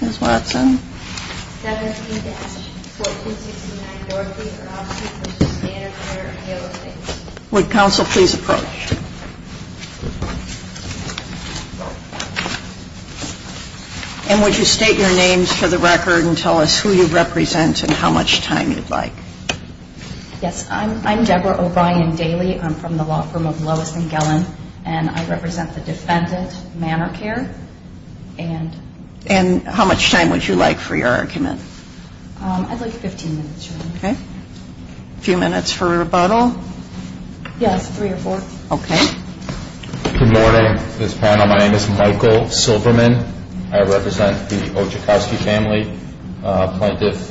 Ms. Watson? 17-1469 Dorothy Oczachowski v. Manor Care of Palos Heights Would counsel please approach? And would you state your names for the record and tell us who you represent and how much time you'd like? Yes, I'm Deborah O'Brien Daly. I'm from the law firm of Lois and Gellin, and I represent the defendant, Manor Care, and And how much time would you like for your argument? I'd like 15 minutes, Your Honor. Okay. A few minutes for rebuttal? Yes, three or four. Okay. Good morning, Ms. Pano. My name is Michael Silverman. I represent the Oczachowski family, plaintiff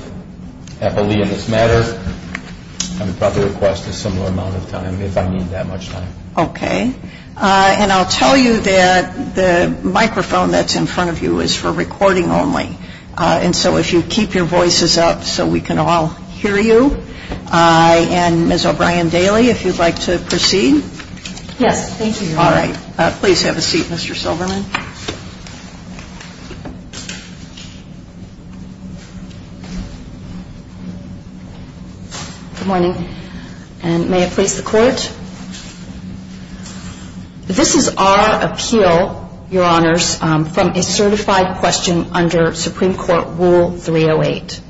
Eppley in this matter. I would probably request a similar amount of time if I need that much time. Okay. And I'll tell you that the microphone that's in front of you is for recording only. And so if you keep your voices up so we can all hear you. And Ms. O'Brien Daly, if you'd like to proceed? Yes, thank you, Your Honor. All right. Please have a seat, Mr. Silverman. Good morning. And may it please the Court? This is our appeal, Your Honors, from a certified question under Supreme Court Rule 308.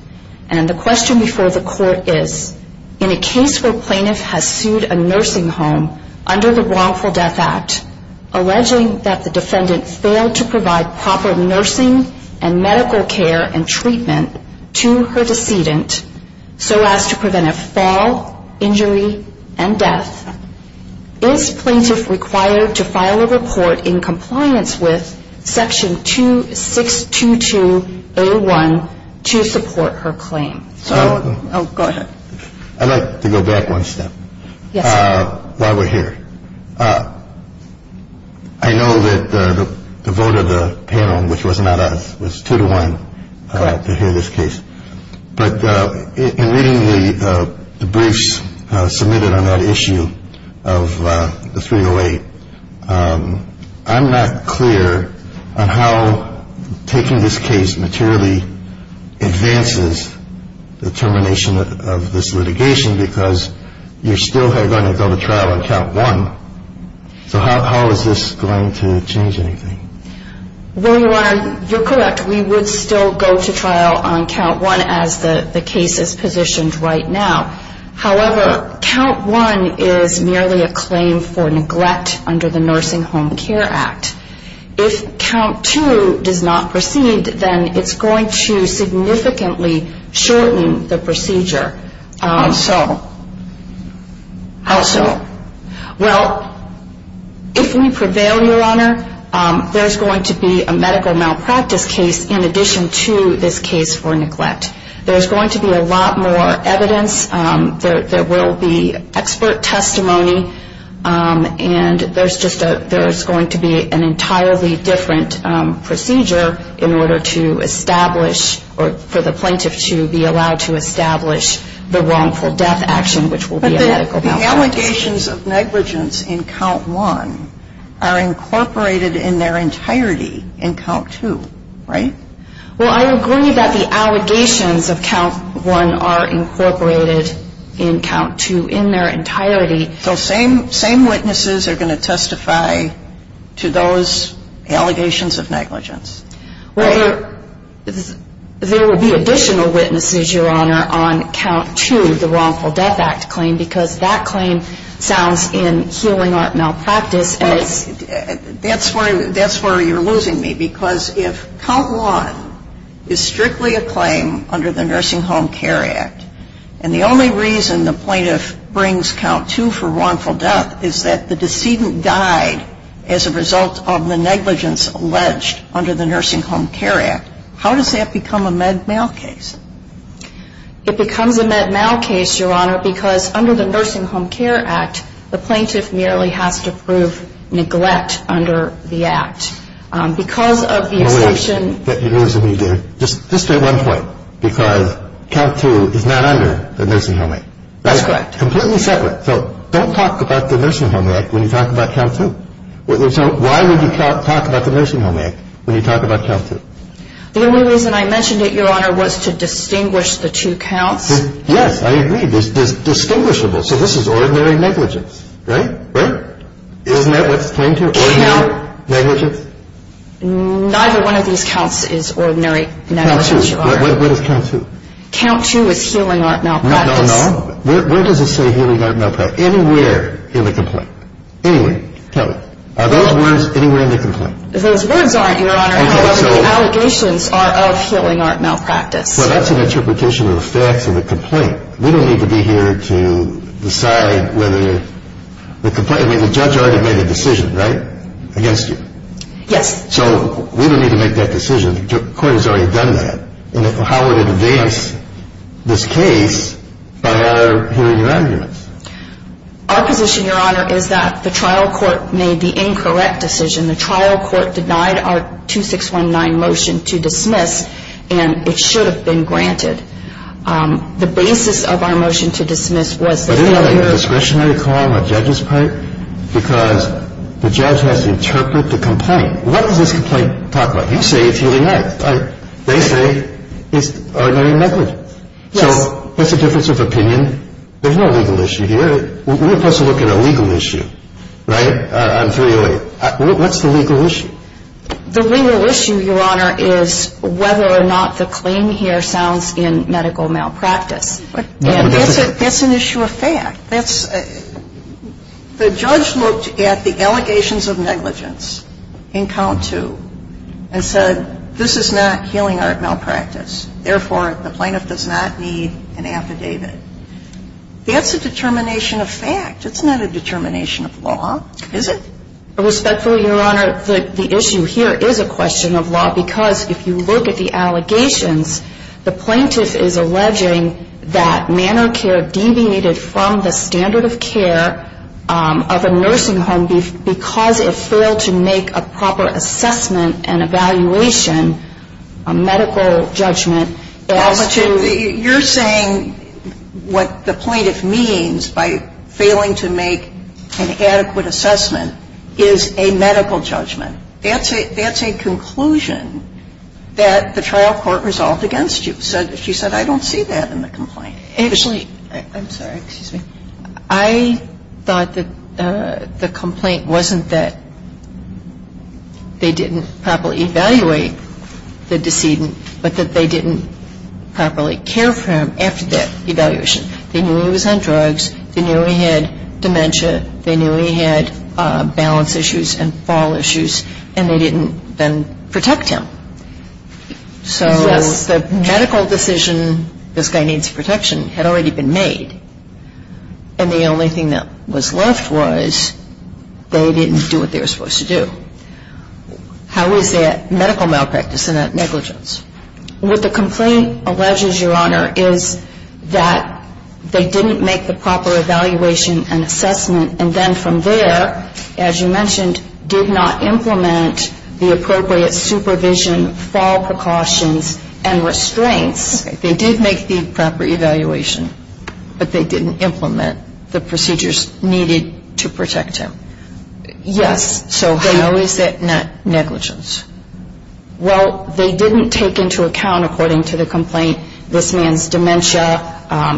And the question before the Court is, in a case where a plaintiff has sued a nursing home under the Wrongful Death Act, alleging that the defendant failed to provide proper nursing and medical care and treatment to her decedent, so as to prevent a fall, injury, and death, is plaintiff required to file a report in compliance with Section 2622A1 to support her claim? So go ahead. I'd like to go back one step. Yes, sir. While we're here, I know that the vote of the panel, which was not us, was two to one to hear this case. But in reading the briefs submitted on that issue of the 308, I'm not clear on how taking this case materially advances the termination of this litigation, because you're still going to go to trial on Count 1. So how is this going to change anything? Well, Your Honor, you're correct. We would still go to trial on Count 1 as the case is positioned right now. However, Count 1 is merely a claim for neglect under the Nursing Home Care Act. If Count 2 does not proceed, then it's going to significantly shorten the procedure. How so? How so? Well, if we prevail, Your Honor, there's going to be a medical malpractice case in addition to this case for neglect. There's going to be a lot more evidence. There will be expert testimony. And there's going to be an entirely different procedure in order to establish or for the plaintiff to be allowed to establish the wrongful death action, which will be a medical malpractice. But the allegations of negligence in Count 1 are incorporated in their entirety in Count 2, right? Well, I agree that the allegations of Count 1 are incorporated in Count 2 in their entirety. So same witnesses are going to testify to those allegations of negligence, right? Well, there will be additional witnesses, Your Honor, on Count 2, the wrongful death act claim, because that claim sounds in healing art malpractice. That's where you're losing me, because if Count 1 is strictly a claim under the Nursing Home Care Act and the only reason the plaintiff brings Count 2 for wrongful death is that the decedent died as a result of the negligence alleged under the Nursing Home Care Act, how does that become a med mal case? It becomes a med mal case, Your Honor, because under the Nursing Home Care Act, the plaintiff merely has to prove neglect under the act. Because of the assertion that you're losing me there. So, I'm going to say, just to state one point, because Count 2 is not under the Nursing Home Act. That's correct. Completely separate. So don't talk about the Nursing Home Act when you talk about Count 2. So why would you talk about the Nursing Home Act when you talk about Count 2? The only reason I mentioned it, Your Honor, was to distinguish the two counts. Yes, I agree. It's distinguishable. So this is ordinary negligence, right? Right? Isn't that what it's claiming to be? Count. Ordinary negligence? Neither one of these counts is ordinary negligence, Your Honor. What is Count 2? Count 2 is healing art malpractice. No, no, no. Where does it say healing art malpractice? Anywhere in the complaint. Anywhere. Tell me. Are those words anywhere in the complaint? Those words aren't, Your Honor. The allegations are of healing art malpractice. Well, that's an interpretation of the facts of the complaint. We don't need to be here to decide whether the complaint, I mean, the judge already made a decision, right? Against you. Yes. So we don't need to make that decision. The court has already done that. And how would it advance this case by our hearing your arguments? Our position, Your Honor, is that the trial court made the incorrect decision. The trial court denied our 2619 motion to dismiss, and it should have been granted. The basis of our motion to dismiss was the failure of the court. Because the judge has to interpret the complaint. What does this complaint talk about? You say it's healing art. They say it's ordinary negligence. So what's the difference of opinion? There's no legal issue here. We're supposed to look at a legal issue, right? What's the legal issue? The legal issue, Your Honor, is whether or not the claim here sounds in medical malpractice. That's an issue of fact. The judge looked at the allegations of negligence in count two and said this is not healing art malpractice. Therefore, the plaintiff does not need an affidavit. That's a determination of fact. It's not a determination of law, is it? Respectfully, Your Honor, the issue here is a question of law because if you look at the allegations, the plaintiff is alleging that manor care deviated from the standard of care of a nursing home because it failed to make a proper assessment and evaluation, a medical judgment, as to — You're saying what the plaintiff means by failing to make an adequate assessment is a medical judgment. That's a conclusion that the trial court resolved against you. She said, I don't see that in the complaint. Actually, I'm sorry. Excuse me. I thought that the complaint wasn't that they didn't properly evaluate the decedent, but that they didn't properly care for him after that evaluation. They knew he was on drugs. They knew he had dementia. They knew he had balance issues and fall issues, and they didn't then protect him. So the medical decision, this guy needs protection, had already been made, and the only thing that was left was they didn't do what they were supposed to do. How is that medical malpractice and that negligence? What the complaint alleges, Your Honor, is that they didn't make the proper evaluation and assessment, and then from there, as you mentioned, did not implement the appropriate supervision, fall precautions, and restraints. Okay. They did make the proper evaluation, but they didn't implement the procedures needed to protect him. Yes. So how is that negligence? Well, they didn't take into account, according to the complaint, this man's dementia,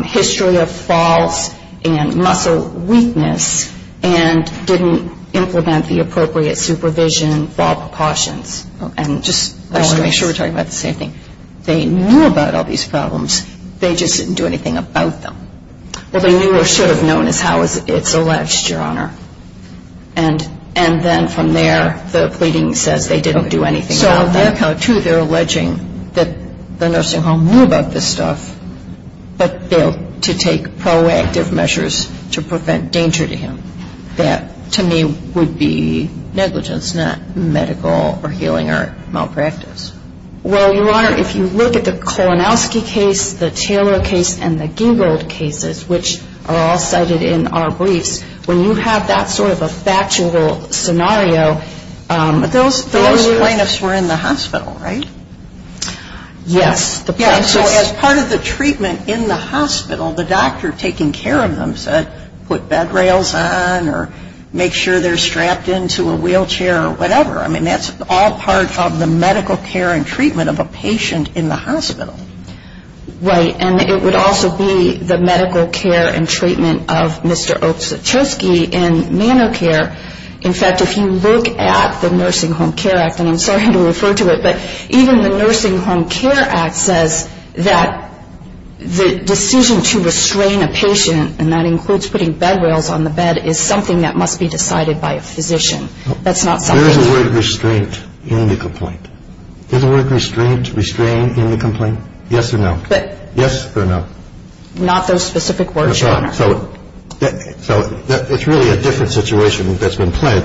history of falls, and muscle weakness, and didn't implement the appropriate supervision, fall precautions, and restraints. I want to make sure we're talking about the same thing. They knew about all these problems. They just didn't do anything about them. Well, they knew or should have known, is how it's alleged, Your Honor. And then from there, the pleading says they didn't do anything about them. So there, too, they're alleging that the nursing home knew about this stuff, but failed to take proactive measures to prevent danger to him. That, to me, would be negligence, not medical or healing or malpractice. Well, Your Honor, if you look at the Klonowski case, the Taylor case, and the Gingold cases, which are all cited in our briefs, when you have that sort of a factual scenario, those plaintiffs were in the hospital, right? Yes. So as part of the treatment in the hospital, the doctor taking care of them said put bed rails on or make sure they're strapped into a wheelchair or whatever. I mean, that's all part of the medical care and treatment of a patient in the hospital. Right. And it would also be the medical care and treatment of Mr. Oksotchoski in manor care. In fact, if you look at the Nursing Home Care Act, and I'm sorry to refer to it, but even the Nursing Home Care Act says that the decision to restrain a patient, and that includes putting bed rails on the bed, is something that must be decided by a physician. That's not something that's... Where is the word restraint in the complaint? Is the word restraint, restrain, in the complaint? Yes or no? Yes or no? Not those specific words, Your Honor. So it's really a different situation that's been played.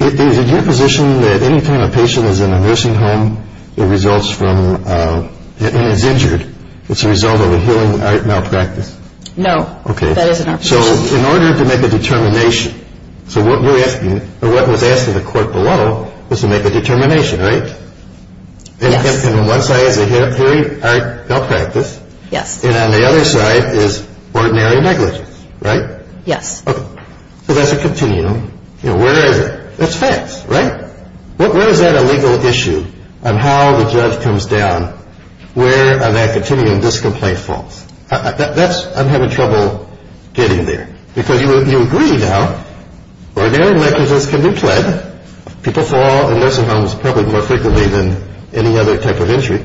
Is it your position that any time a patient is in a nursing home and is injured, it's a result of a healing malpractice? No. Okay. That isn't our position. So in order to make a determination, so what you're asking, or what was asked of the court below was to make a determination, right? Yes. And on one side is a healing malpractice. Yes. And on the other side is ordinary negligence, right? Yes. Okay. So that's a continuum. You know, where is it? That's facts, right? Where is that a legal issue on how the judge comes down where on that continuum this complaint falls? I'm having trouble getting there. Because you agree now, ordinary negligence can be pled. People fall in nursing homes probably more frequently than any other type of injury.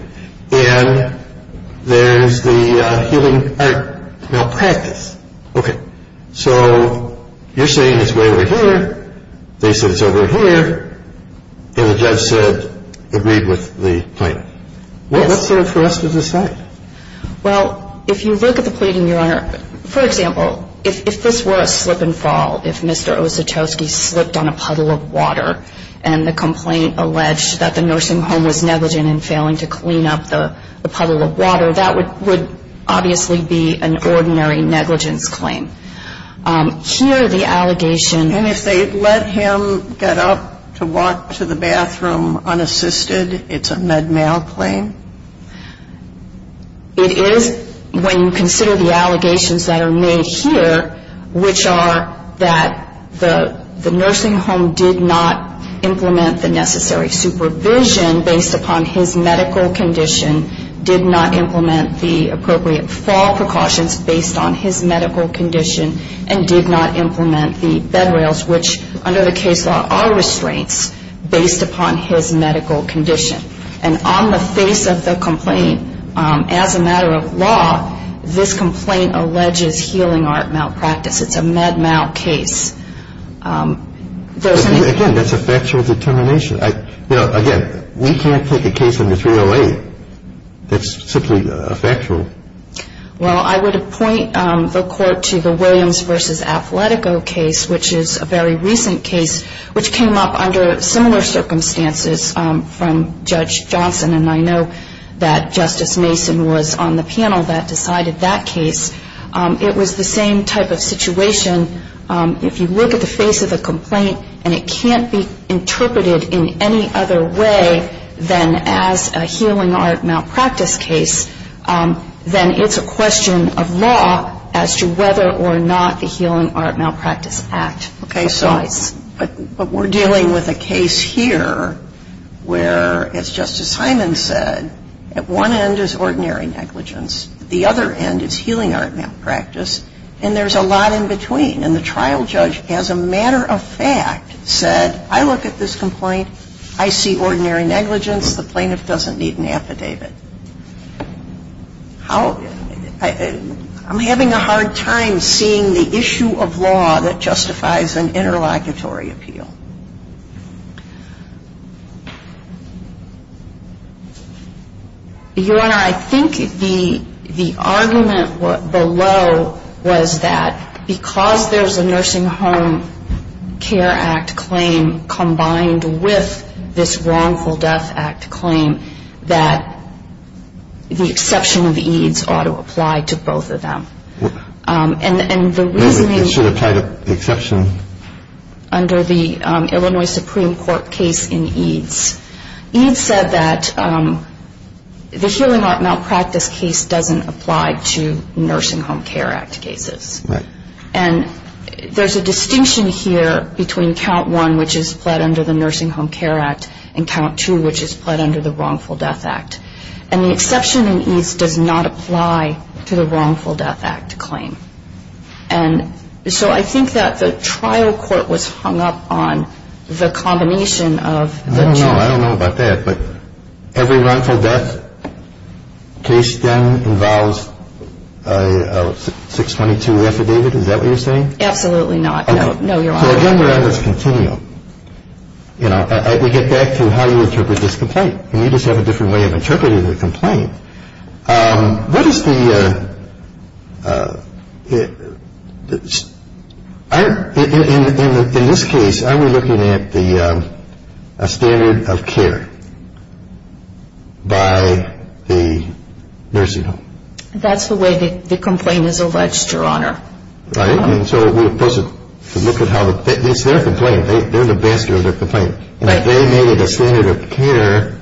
And there's the healing malpractice. Okay. So you're saying it's way over here. They said it's over here. And the judge said, agreed with the plaintiff. Yes. What's there for us to decide? Well, if you look at the pleading, Your Honor, for example, if this were a slip and fall, if Mr. Ositowski slipped on a puddle of water and the complaint alleged that the nursing home was negligent in failing to clean up the puddle of water, that would obviously be an ordinary negligence claim. Here the allegation And if they let him get up to walk to the bathroom unassisted, it's a med mal claim? It is when you consider the allegations that are made here, which are that the nursing home did not implement the necessary supervision based upon his medical condition, did not implement the appropriate fall precautions based on his medical condition, and did not implement the bed rails, which under the case law are restraints, based upon his medical condition. And on the face of the complaint, as a matter of law, this complaint alleges healing art malpractice. It's a med mal case. Again, that's a factual determination. Again, we can't take a case under 308 that's simply factual. Well, I would appoint the court to the Williams v. case, which is a very recent case, which came up under similar circumstances from Judge Johnson, and I know that Justice Mason was on the panel that decided that case. It was the same type of situation. If you look at the face of the complaint and it can't be interpreted in any other way than as a healing art malpractice case, then it's a question of law as to whether or not the Healing Art Malpractice Act applies. Okay. So but we're dealing with a case here where, as Justice Hyman said, at one end is ordinary negligence, at the other end is healing art malpractice, and there's a lot in between. And the trial judge, as a matter of fact, said, I look at this complaint, I see ordinary negligence, the plaintiff doesn't need an affidavit. I'm having a hard time seeing the issue of law that justifies an interlocutory appeal. Your Honor, I think the argument below was that because there's a Nursing Home Care Act claim combined with this Wrongful Death Act claim, that the exception of EADS ought to apply to both of them. And the reasoning... It should have tied up the exception. Under the Illinois Supreme Court case in EADS, EADS said that the Healing Art Malpractice case doesn't apply to Nursing Home Care Act cases. Right. And there's a distinction here between Count 1, which is pled under the Nursing Home Care Act, and Count 2, which is pled under the Wrongful Death Act. And the exception in EADS does not apply to the Wrongful Death Act claim. And so I think that the trial court was hung up on the combination of the two. I don't know. I don't know about that. But every wrongful death case then involves a 622 affidavit. Is that what you're saying? Absolutely not. No, Your Honor. So again, we're on this continuum. You know, we get back to how you interpret this complaint. And you just have a different way of interpreting the complaint. In this case, are we looking at a standard of care by the nursing home? That's the way the complaint is alleged, Your Honor. Right. And so we're supposed to look at how the – it's their complaint. They're the master of their complaint. And if they made it a standard of care,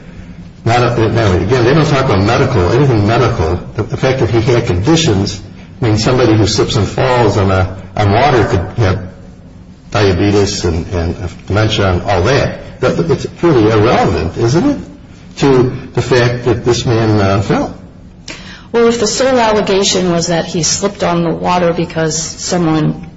not a – I don't know. Again, they don't talk about medical, anything medical. The fact that he had conditions, I mean, somebody who slips and falls on water could have diabetes and dementia and all that. It's pretty irrelevant, isn't it, to the fact that this man fell? Well, if the sole allegation was that he slipped on the water because someone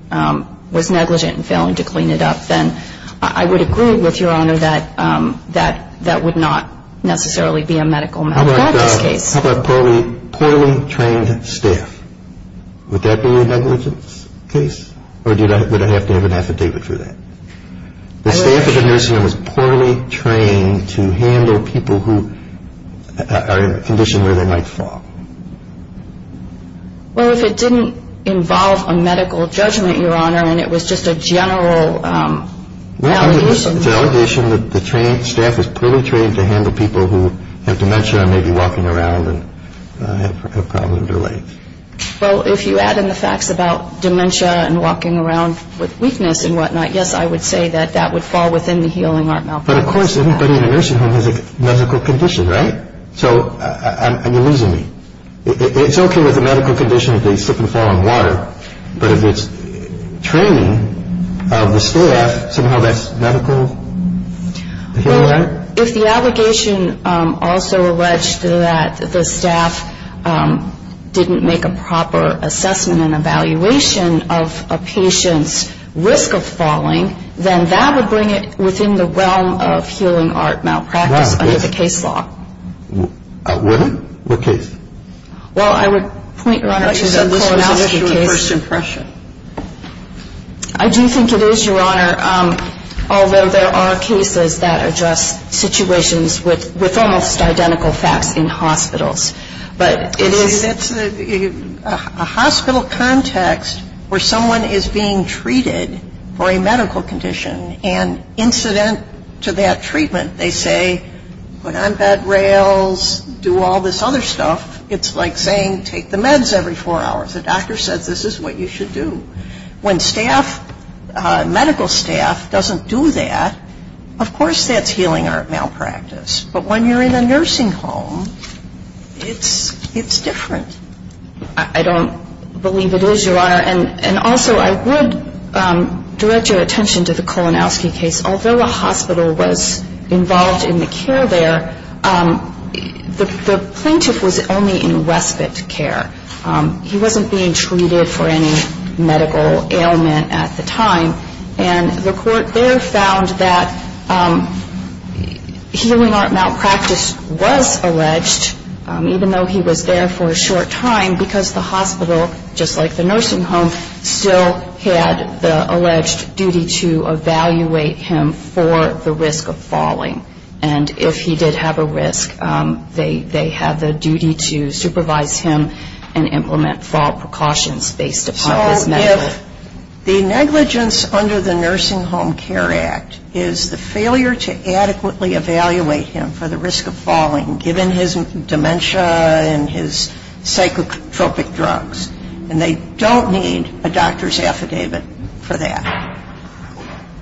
was negligent in failing to clean it up, then I would agree with Your Honor that that would not necessarily be a medical malpractice case. How about poorly trained staff? Would that be a negligence case? Or would I have to have an affidavit for that? The staff at the nursing home was poorly trained to handle people who are in a condition where they might fall. Well, if it didn't involve a medical judgment, Your Honor, and it was just a general allegation. It's an allegation that the staff is poorly trained to handle people who have dementia and may be walking around and have problems with their legs. Well, if you add in the facts about dementia and walking around with weakness and whatnot, yes, I would say that that would fall within the healing art malpractice. But, of course, anybody in a nursing home has a medical condition, right? So you're losing me. It's okay with a medical condition if they slip and fall on water, but if it's training of the staff, somehow that's medical healing art? Well, if the allegation also alleged that the staff didn't make a proper assessment of the medical condition, then that would bring it within the realm of healing art malpractice under the case law. What? What case? Well, I would point, Your Honor, to the Kolosowski case. I thought you said this was an issue of first impression. I do think it is, Your Honor, although there are cases that address situations with almost identical facts in hospitals. That's a hospital context where someone is being treated for a medical condition, and incident to that treatment, they say, put on bed rails, do all this other stuff. It's like saying take the meds every four hours. The doctor says this is what you should do. When staff, medical staff, doesn't do that, of course that's healing art malpractice. But when you're in a nursing home, it's different. I don't believe it is, Your Honor. And also I would direct your attention to the Kolosowski case. Although the hospital was involved in the care there, the plaintiff was only in respite care. He wasn't being treated for any medical ailment at the time. And the court there found that healing art malpractice was alleged, even though he was there for a short time, because the hospital, just like the nursing home, still had the alleged duty to evaluate him for the risk of falling. And if he did have a risk, they had the duty to supervise him and implement fall precautions based upon his medical. The negligence under the Nursing Home Care Act is the failure to adequately evaluate him for the risk of falling, given his dementia and his psychotropic drugs. And they don't need a doctor's affidavit for that.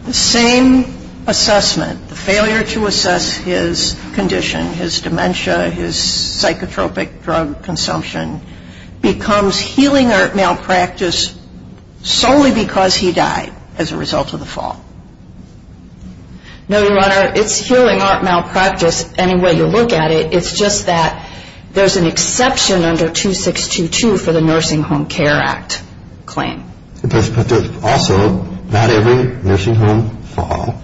The same assessment, the failure to assess his condition, his dementia, his psychotropic drug consumption, becomes healing art malpractice solely because he died as a result of the fall. No, Your Honor, it's healing art malpractice any way you look at it. It's just that there's an exception under 2622 for the Nursing Home Care Act claim. But also, not every nursing home fall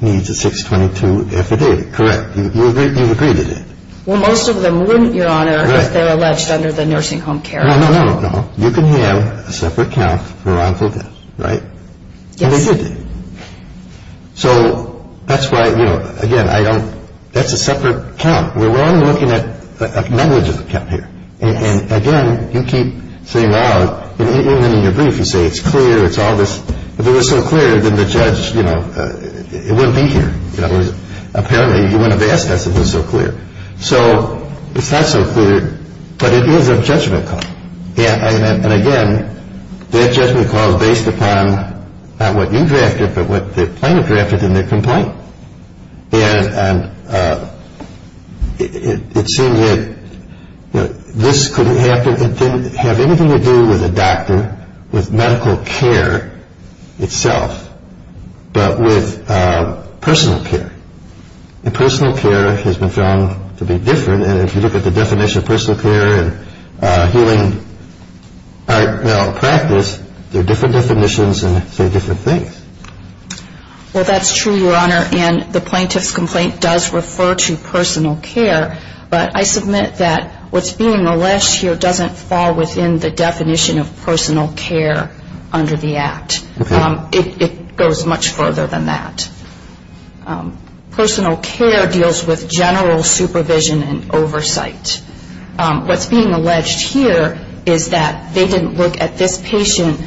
needs a 622 affidavit, correct? You've agreed to that. Well, most of them wouldn't, Your Honor, if they're alleged under the Nursing Home Care Act. No, no, no, no. You can have a separate count for wrongful death, right? Yes. And they did. So that's why, you know, again, I don't – that's a separate count. We're only looking at a negligent count here. And again, you keep saying, well, even in your brief, you say it's clear, it's all this. If it was so clear, then the judge, you know, it wouldn't be here. Apparently, you wouldn't have asked us if it was so clear. So it's not so clear, but it is a judgment call. And again, that judgment call is based upon not what you drafted, but what the plaintiff drafted in their complaint. And it seemed that this couldn't have anything to do with a doctor, with medical care itself, but with personal care. And personal care has been found to be different. And if you look at the definition of personal care and healing practice, they're different definitions and say different things. Well, that's true, Your Honor. And the plaintiff's complaint does refer to personal care. But I submit that what's being relished here doesn't fall within the definition of personal care under the Act. Okay. It goes much further than that. Personal care deals with general supervision and oversight. What's being alleged here is that they didn't look at this patient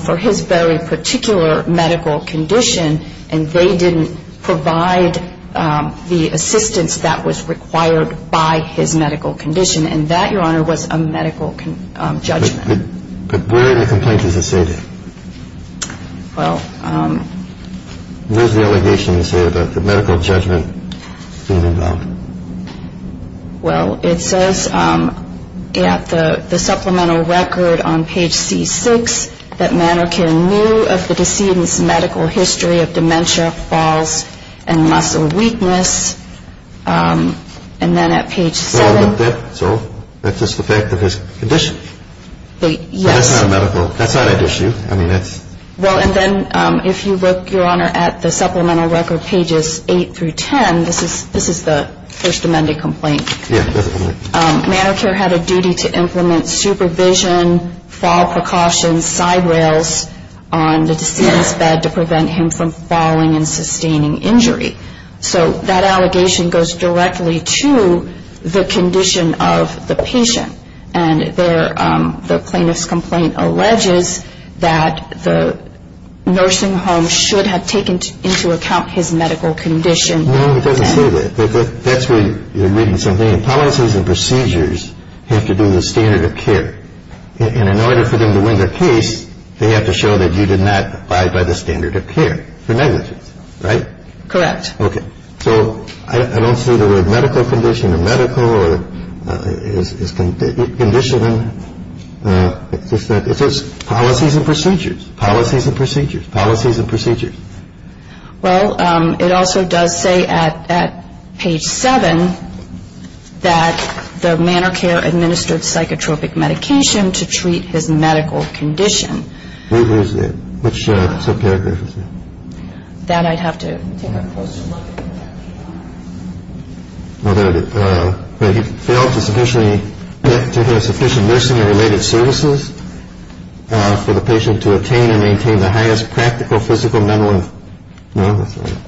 for his very particular medical condition, and they didn't provide the assistance that was required by his medical condition. And that, Your Honor, was a medical judgment. But where in the complaint does it say that? Where's the allegation to say that the medical judgment is involved? Well, it says at the supplemental record on page C6 that Mannequin knew of the decedent's medical history of dementia, falls, and muscle weakness. And then at page 7. So that's just the fact of his condition. Yes. So that's not a medical issue. Well, and then if you look, Your Honor, at the supplemental record pages 8 through 10, this is the First Amendment complaint. Yes. Mannequin had a duty to implement supervision, fall precautions, side rails on the decedent's bed to prevent him from falling and sustaining injury. So that allegation goes directly to the condition of the patient. And the plaintiff's complaint alleges that the nursing home should have taken into account his medical condition. No, it doesn't say that. That's where you're reading something. Policies and procedures have to do with standard of care. And in order for them to win their case, they have to show that you did not abide by the standard of care for negligence, right? Correct. Okay. So I don't see the word medical condition or medical or is conditioning. It says policies and procedures. Policies and procedures. Policies and procedures. Well, it also does say at page 7 that the manor care administered psychotropic medication to treat his medical condition. Which subparagraph is that? That I'd have to take a closer look at. Well, there it is. He failed to sufficiently to have sufficient nursing and related services for the patient to attain and maintain the highest practical physical, mental and mental health.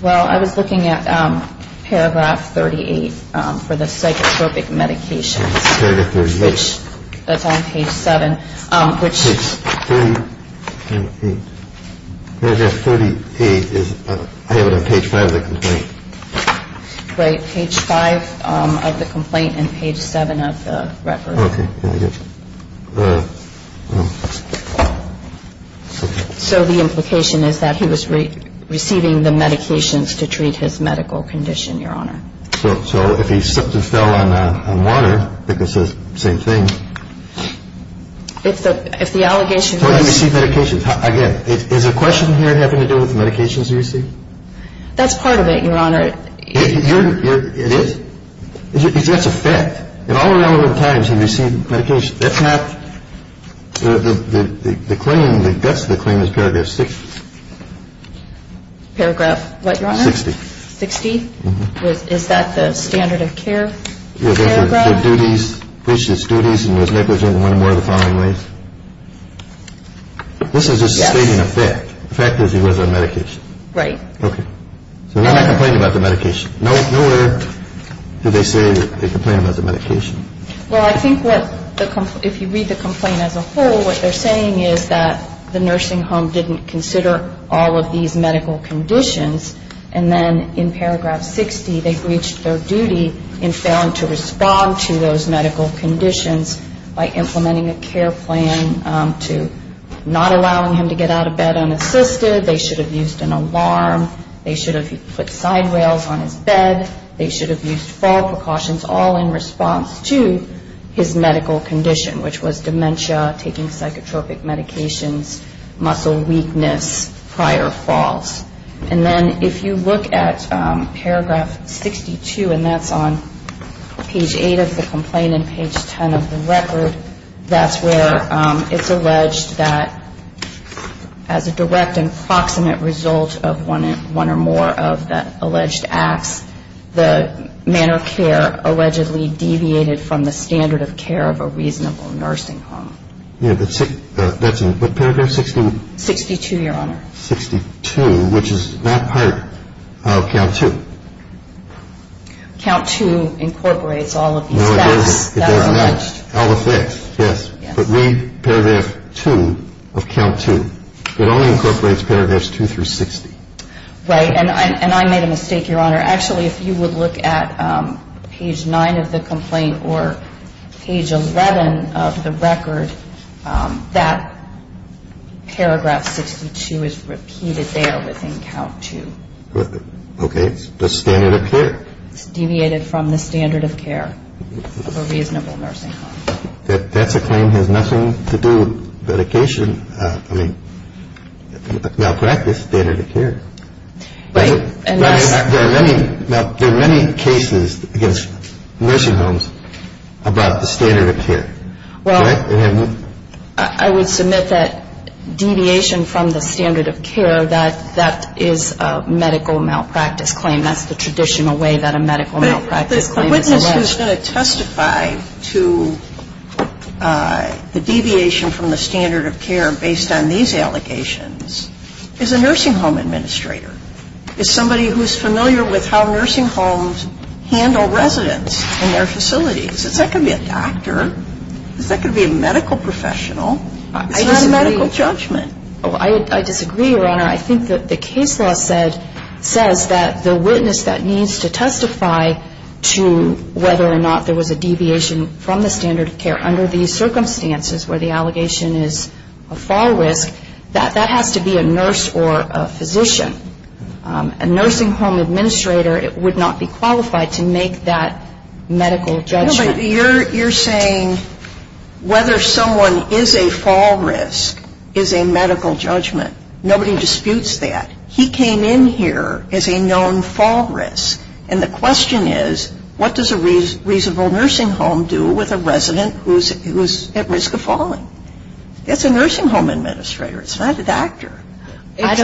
Well, I was looking at paragraph 38 for the psychotropic medication. Which that's on page seven, which is 38 is page five. Right. Page five of the complaint and page seven of the record. So the implication is that he was receiving the medications to treat his medical condition, Your Honor. So if he fell on water, I think it says the same thing. If the allegation was. Or he received medications. Again, is the question here having to do with the medications he received? That's part of it, Your Honor. It is? Because that's a fact. In all relevant times he received medication. That's not the claim. The guts of the claim is paragraph 60. Paragraph what, Your Honor? 60. 60? Mm-hmm. Is that the standard of care paragraph? Which is duties and was negligent in one or more of the following ways? This is just stating a fact. Yes. The fact is he was on medication. Right. Okay. So we're not complaining about the medication. Nowhere do they say that they complain about the medication. Well, I think what the complaint, if you read the complaint as a whole, what they're saying is that the nursing home didn't consider all of these medical conditions and then in paragraph 60 they breached their duty in failing to respond to those medical conditions by implementing a care plan to not allowing him to get out of bed unassisted. They should have used an alarm. They should have put side rails on his bed. They should have used fall precautions, all in response to his medical condition, which was dementia, taking psychotropic medications, muscle weakness, prior falls. And then if you look at paragraph 62, and that's on page 8 of the complaint and page 10 of the record, that's where it's alleged that as a direct and proximate result of one or more of the alleged acts, the manner of care allegedly deviated from the standard of care of a reasonable nursing home. Yeah, but that's in paragraph 61? 62, Your Honor. 62, which is not part of count 2. Count 2 incorporates all of these facts. No, it doesn't. That's alleged. All the facts, yes. But read paragraph 2 of count 2. It only incorporates paragraphs 2 through 60. Right, and I made a mistake, Your Honor. Actually, if you would look at page 9 of the complaint or page 11 of the record, that paragraph 62 is repeated there within count 2. Okay. It's the standard of care. It's deviated from the standard of care of a reasonable nursing home. That's a claim that has nothing to do with medication. I mean, malpractice standard of care. Right. There are many cases against nursing homes about the standard of care. Well, I would submit that deviation from the standard of care, that that is a medical malpractice claim. That's the traditional way that a medical malpractice claim is alleged. The witness who is going to testify to the deviation from the standard of care based on these allegations is a nursing home administrator. It's somebody who's familiar with how nursing homes handle residents in their facilities. It's not going to be a doctor. It's not going to be a medical professional. It's not a medical judgment. I disagree, Your Honor. I think that the case law says that the witness that needs to testify to whether or not there was a deviation from the standard of care under these circumstances where the allegation is a fall risk, that that has to be a nurse or a physician. A nursing home administrator would not be qualified to make that medical judgment. You're saying whether someone is a fall risk is a medical judgment. Nobody disputes that. He came in here as a known fall risk. And the question is, what does a reasonable nursing home do with a resident who is at risk of falling? It's a nursing home administrator. It's not a doctor. If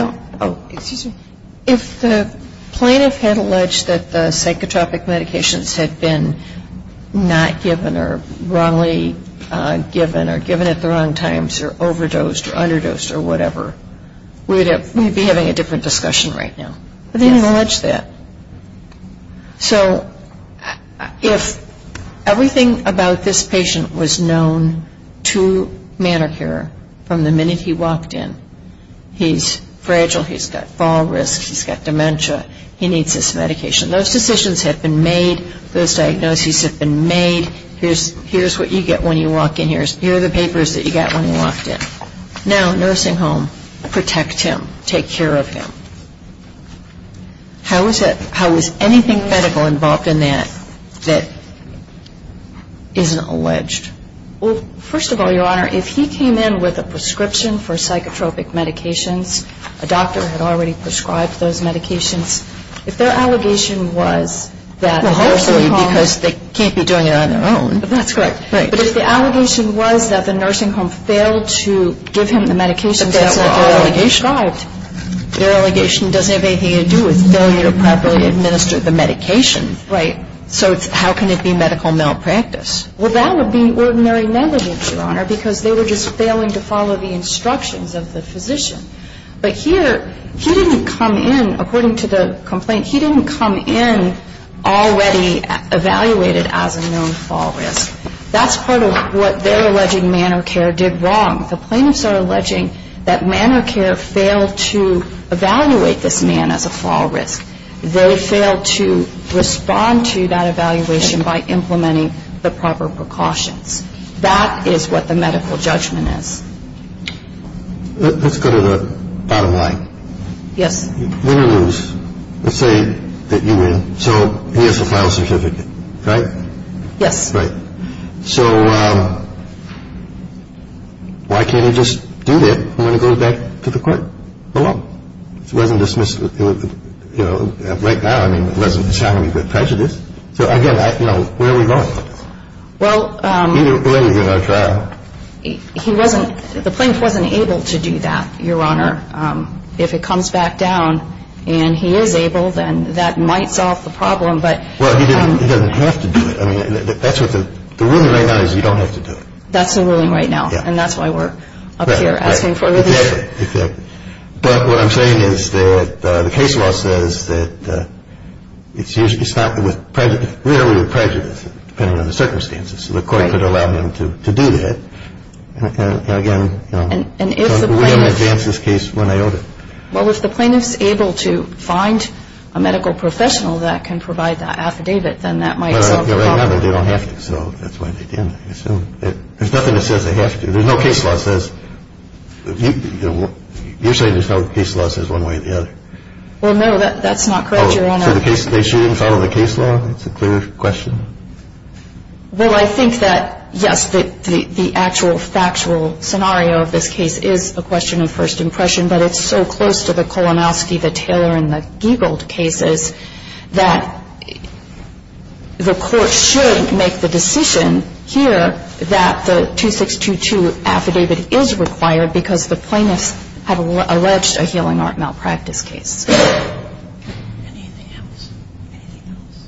the plaintiff had alleged that the psychotropic medications had been not given or wrongly given or given at the wrong times or overdosed or underdosed or whatever, we'd be having a different discussion right now. But they didn't allege that. So if everything about this patient was known to manicure from the minute he walked in, he's fragile, he's got fall risk, he's got dementia, he needs this medication. Those decisions have been made. Those diagnoses have been made. Here's what you get when you walk in here. Here are the papers that you got when you walked in. Now, nursing home, protect him. Take care of him. How is anything medical involved in that that isn't alleged? Well, first of all, Your Honor, if he came in with a prescription for psychotropic medications, a doctor had already prescribed those medications, if their allegation was that the nursing home Well, hopefully because they can't be doing it on their own. That's correct. Right. But if the allegation was that the nursing home failed to give him the medications that were already prescribed. Their allegation doesn't have anything to do with failure to properly administer the medication. Right. So how can it be medical malpractice? Well, that would be ordinary negligence, Your Honor, because they were just failing to follow the instructions of the physician. But here, he didn't come in, according to the complaint, he didn't come in already evaluated as a known fall risk. That's part of what their alleged manner of care did wrong. The plaintiffs are alleging that manner of care failed to evaluate this man as a fall risk. They failed to respond to that evaluation by implementing the proper precautions. That is what the medical judgment is. Let's go to the bottom line. Yes. Let's say that you win, so he has a file certificate, right? Yes. Right. So why can't he just do that when he goes back to the court alone? If he wasn't dismissed, you know, right now, I mean, it doesn't sound any good prejudice. So, again, you know, where are we going? Well, he wasn't, the plaintiff wasn't able to do that, Your Honor. If it comes back down and he is able, then that might solve the problem. Well, he doesn't have to do it. I mean, that's what the ruling right now is you don't have to do it. That's the ruling right now, and that's why we're up here asking for it. Right. Exactly. But what I'm saying is that the case law says that it's not with prejudice, where are we with prejudice, depending on the circumstances. So the court could allow him to do that. And, again, you know, we didn't advance this case when I owed it. Well, if the plaintiff is able to find a medical professional that can provide the affidavit, then that might solve the problem. Right now, they don't have to. So that's why they didn't. There's nothing that says they have to. There's no case law that says, you're saying there's no case law that says one way or the other. Well, no, that's not correct, Your Honor. So they shouldn't follow the case law? That's a clear question. Well, I think that, yes, the actual factual scenario of this case is a question of first impression, but it's so close to the Kolomowski, the Taylor, and the Giegel cases that the court should make the decision here that the 2622 affidavit is required because the plaintiffs have alleged a healing art malpractice case. Anything else? Anything else?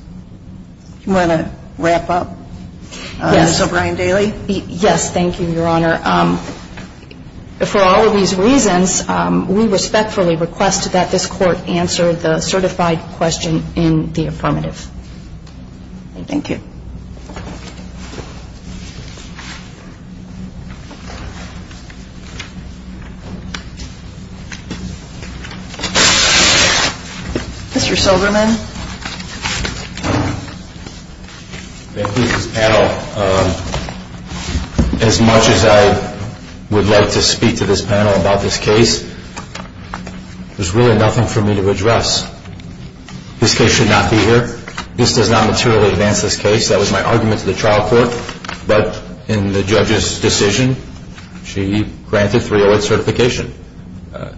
Do you want to wrap up, Ms. O'Brien-Dailey? Yes. Thank you, Your Honor. For all of these reasons, we respectfully request that this court answer the certified question in the affirmative. Thank you. Mr. Silverman. Thank you to this panel. As much as I would like to speak to this panel about this case, there's really nothing for me to address. This case should not be here. This does not materially advance this case. That was my argument to the trial court, but in the judge's decision, she granted 308 certification.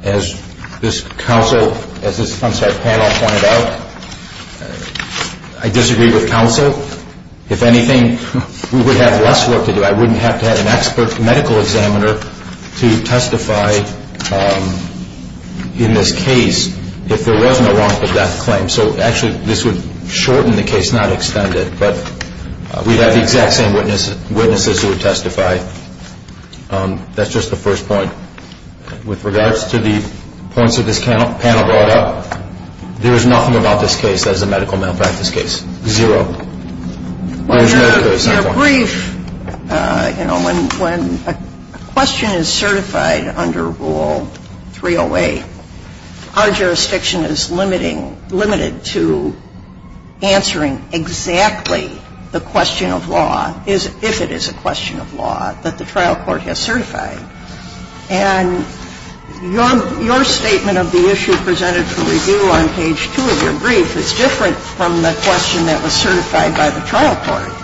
As this panel pointed out, I disagree with counsel. If anything, we would have less work to do. I wouldn't have to have an expert medical examiner to testify in this case if there was no wrongful death claim. So actually, this would shorten the case, not extend it. But we'd have the exact same witnesses who would testify. That's just the first point. With regards to the points that this panel brought up, there is nothing about this case that is a medical malpractice case. Zero. When a question is certified under Rule 308, our jurisdiction is limited to answering exactly the question of law, if it is a question of law that the trial court has certified. And your statement of the issue presented for review on page 2 of your brief is different from the question that was certified by the trial court.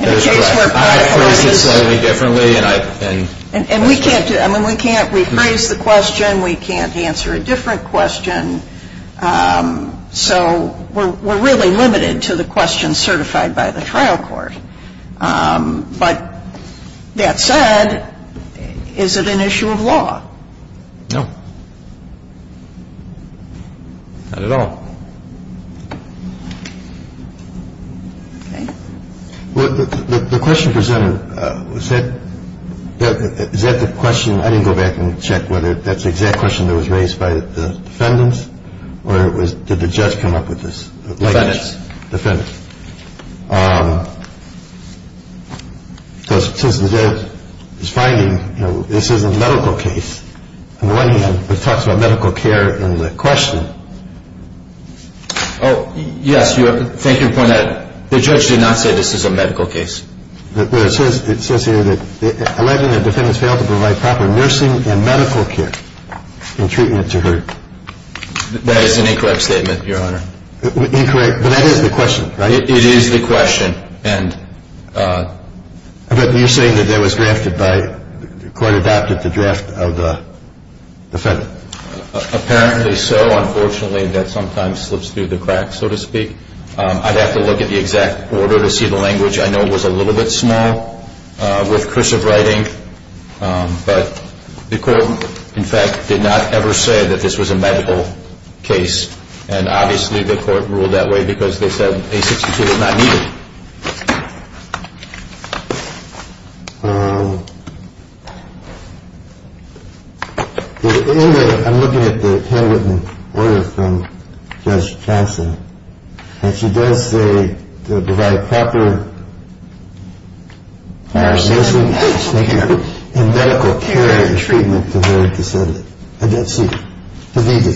And we can't rephrase the question. We can't answer a different question. So we're really limited to the questions certified by the trial court. And we're limited to the question of whether it's a question of law or not. But that said, is it an issue of law? No. Not at all. Okay. The question presented, is that the question? I didn't go back and check whether that's the exact question that was raised by the defendants or did the judge come up with this? Defendants. Defendants. Since the judge is finding this is a medical case, on the one hand, it talks about medical care in the question. Oh, yes. Thank you for pointing that out. The judge did not say this is a medical case. But it says here that 11 of the defendants failed to provide proper nursing and medical care in treatment to her. That is an incorrect statement, Your Honor. Incorrect. But that is the question, right? It is the question. But you're saying that that was drafted by the court adopted the draft of the defendant. Apparently so. Unfortunately, that sometimes slips through the cracks, so to speak. I'd have to look at the exact order to see the language. I know it was a little bit small with cursive writing. But the court, in fact, did not ever say that this was a medical case. And obviously the court ruled that way because they said A62 was not needed. Anyway, I'm looking at the handwritten order from Judge Casa. And she does say to provide proper nursing and medical care in treatment to her descendant. I don't see it. It may be.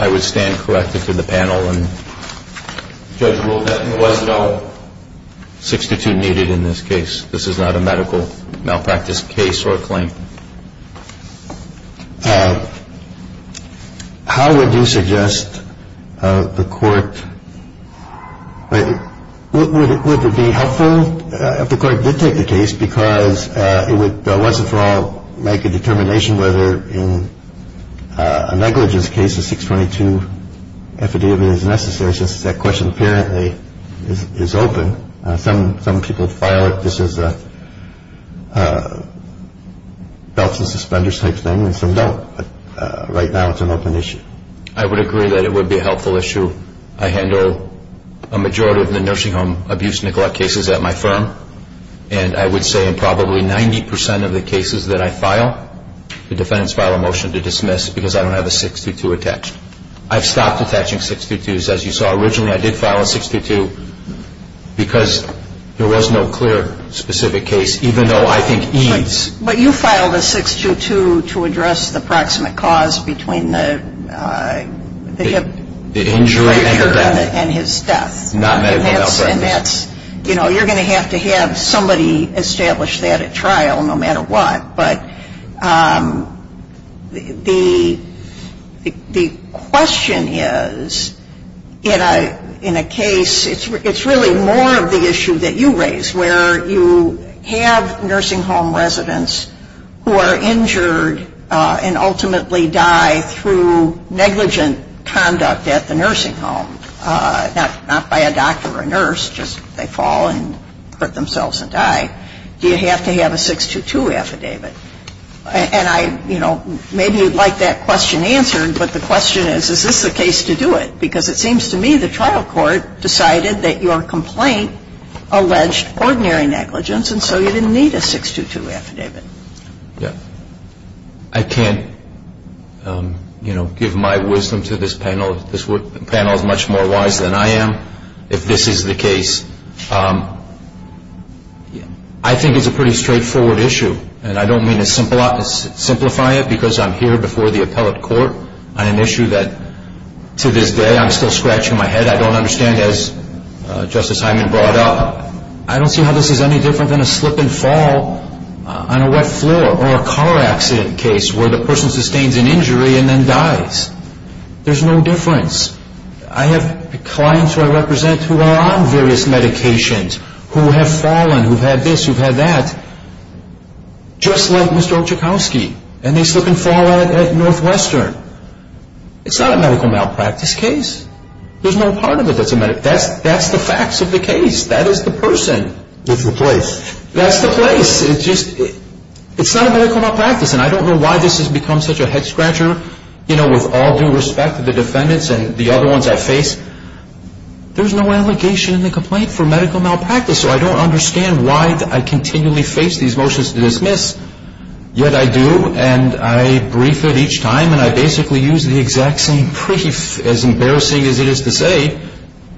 I would stand corrected to the panel and judge ruled that there was no 62 needed in this case. This is not a medical malpractice case or claim. How would you suggest the court? Would it be helpful if the court did take the case? Because it would, once and for all, make a determination whether in a negligence case, a 622 affidavit is necessary, since that question apparently is open. Some people file it. This is a belt and suspenders type thing. And some don't. But right now it's an open issue. I would agree that it would be a helpful issue. I handle a majority of the nursing home abuse and neglect cases at my firm. And I would say in probably 90% of the cases that I file, the defendants file a motion to dismiss because I don't have a 622 attached. I've stopped attaching 622s. As you saw, originally I did file a 622 because there was no clear specific case, even though I think EADS. But you filed a 622 to address the proximate cause between the hip fracture and his death. Not medical malpractice. And that's, you know, you're going to have to have somebody establish that at trial no matter what. But the question is, in a case, it's really more of the issue that you raise, where you have nursing home residents who are injured and ultimately die through negligent conduct at the nursing home. Not by a doctor or a nurse. Just they fall and hurt themselves and die. Do you have to have a 622 affidavit? And I, you know, maybe you'd like that question answered. But the question is, is this the case to do it? Because it seems to me the trial court decided that your complaint alleged ordinary negligence and so you didn't need a 622 affidavit. Yeah. I can't, you know, give my wisdom to this panel. This panel is much more wise than I am if this is the case. I think it's a pretty straightforward issue. And I don't mean to simplify it because I'm here before the appellate court on an issue that, to this day, I'm still scratching my head. I don't understand, as Justice Hyman brought up, I don't see how this is any different than a slip and fall on a wet floor or a car accident case where the person sustains an injury and then dies. There's no difference. I have clients who I represent who are on various medications, who have fallen, who've had this, who've had that, just like Mr. Olczykowski. And they slip and fall at Northwestern. It's not a medical malpractice case. There's no part of it that's a medical malpractice case. That's the facts of the case. That is the person. It's the place. That's the place. It's not a medical malpractice. And I don't know why this has become such a head-scratcher, you know, with all due respect to the defendants and the other ones I face. There's no allegation in the complaint for medical malpractice, so I don't understand why I continually face these motions to dismiss, yet I do. And I brief it each time, and I basically use the exact same brief, as embarrassing as it is to say,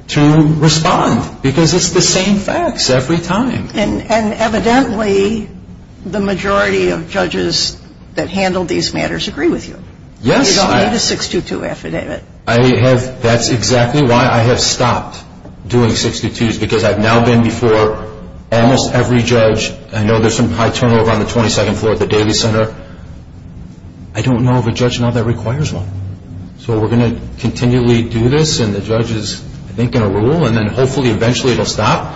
to respond because it's the same facts every time. And evidently the majority of judges that handle these matters agree with you. Yes. You don't need a 622 affidavit. I have – that's exactly why I have stopped doing 622s because I've now been before almost every judge. I know there's some high turnover on the 22nd floor at the Davies Center. I don't know of a judge now that requires one. So we're going to continually do this, and the judge is, I think, going to rule, and then hopefully eventually it will stop.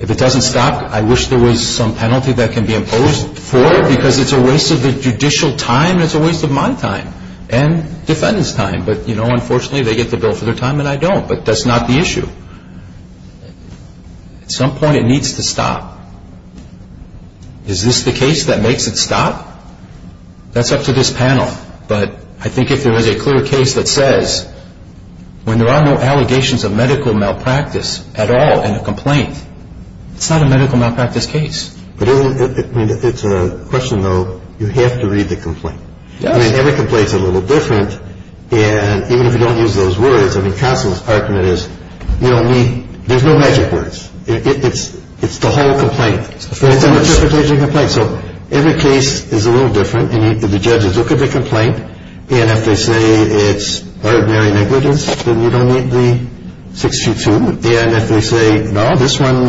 If it doesn't stop, I wish there was some penalty that can be imposed for it because it's a waste of the judicial time and it's a waste of my time and defendants' time. But, you know, unfortunately they get the bill for their time and I don't. But that's not the issue. At some point it needs to stop. Is this the case that makes it stop? That's up to this panel. But I think if there is a clear case that says, when there are no allegations of medical malpractice at all in a complaint, it's not a medical malpractice case. But it's a question, though, you have to read the complaint. Yes. I mean, every complaint is a little different, and even if you don't use those words, I mean, Constance Parkman is, you don't need, there's no magic words. It's the whole complaint. It's an interpretation complaint. So every case is a little different, and the judges look at the complaint, and if they say it's ordinary negligence, then you don't need the 6-2-2. And if they say, no, this one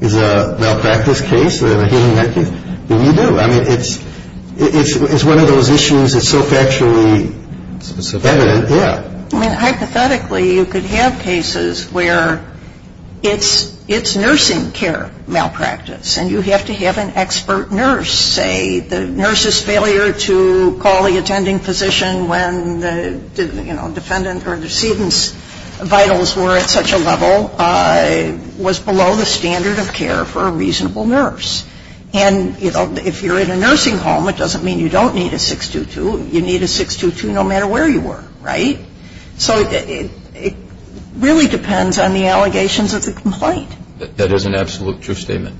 is a malpractice case and a healing act, then you do. I mean, it's one of those issues that's so factually evident, yeah. I mean, hypothetically, you could have cases where it's nursing care malpractice, and you have to have an expert nurse say the nurse's failure to call the attending physician when the, you know, defendant or the decedent's vitals were at such a level was below the standard of care for a reasonable nurse. And, you know, if you're in a nursing home, it doesn't mean you don't need a 6-2-2. You need a 6-2-2 no matter where you were, right? So it really depends on the allegations of the complaint. That is an absolute true statement.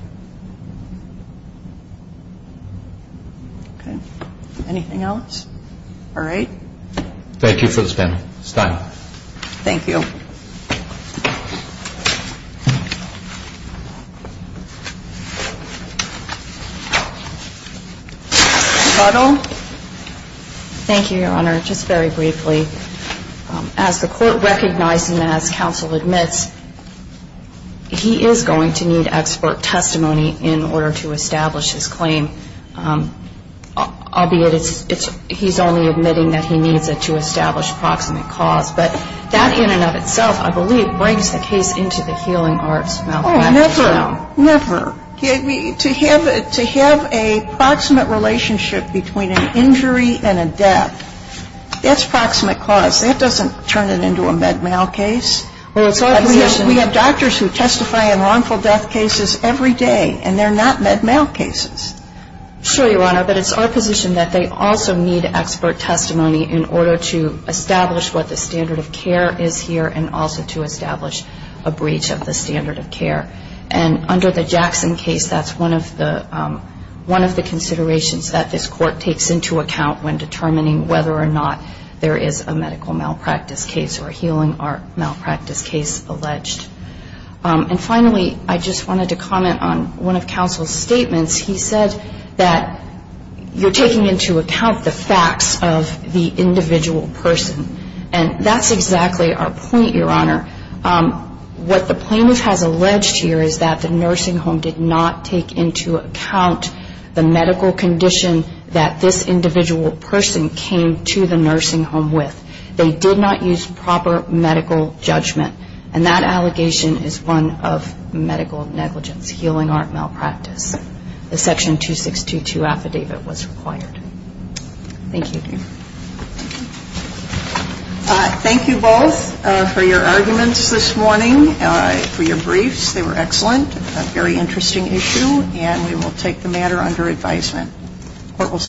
Okay. Anything else? All right. Thank you for this panel. It's time. Thank you. Thank you, Your Honor. Just very briefly, as the court recognized and as counsel admits, he is going to need expert testimony in order to establish his claim. Albeit, he's only admitting that he needs it to establish proximate cause. I believe that's not the case. I believe it brings the case into the healing arts malpractice realm. Oh, never. Never. To have a proximate relationship between an injury and a death, that's proximate cause. That doesn't turn it into a med mal case. Well, it's our position. We have doctors who testify in wrongful death cases every day, and they're not med mal cases. Sure, Your Honor. But it's our position that they also need expert testimony in order to establish what the standard of care is here and also to establish a breach of the standard of care. And under the Jackson case, that's one of the considerations that this court takes into account when determining whether or not there is a medical malpractice case or healing art malpractice case alleged. And finally, I just wanted to comment on one of counsel's statements. He said that you're taking into account the facts of the individual person. And that's exactly our point, Your Honor. What the plaintiff has alleged here is that the nursing home did not take into account the medical condition that this individual person came to the nursing home with. They did not use proper medical judgment. And that allegation is one of medical negligence, healing art malpractice. The Section 2622 affidavit was required. Thank you. Thank you both for your arguments this morning, for your briefs. They were excellent, a very interesting issue. And we will take the matter under advisement.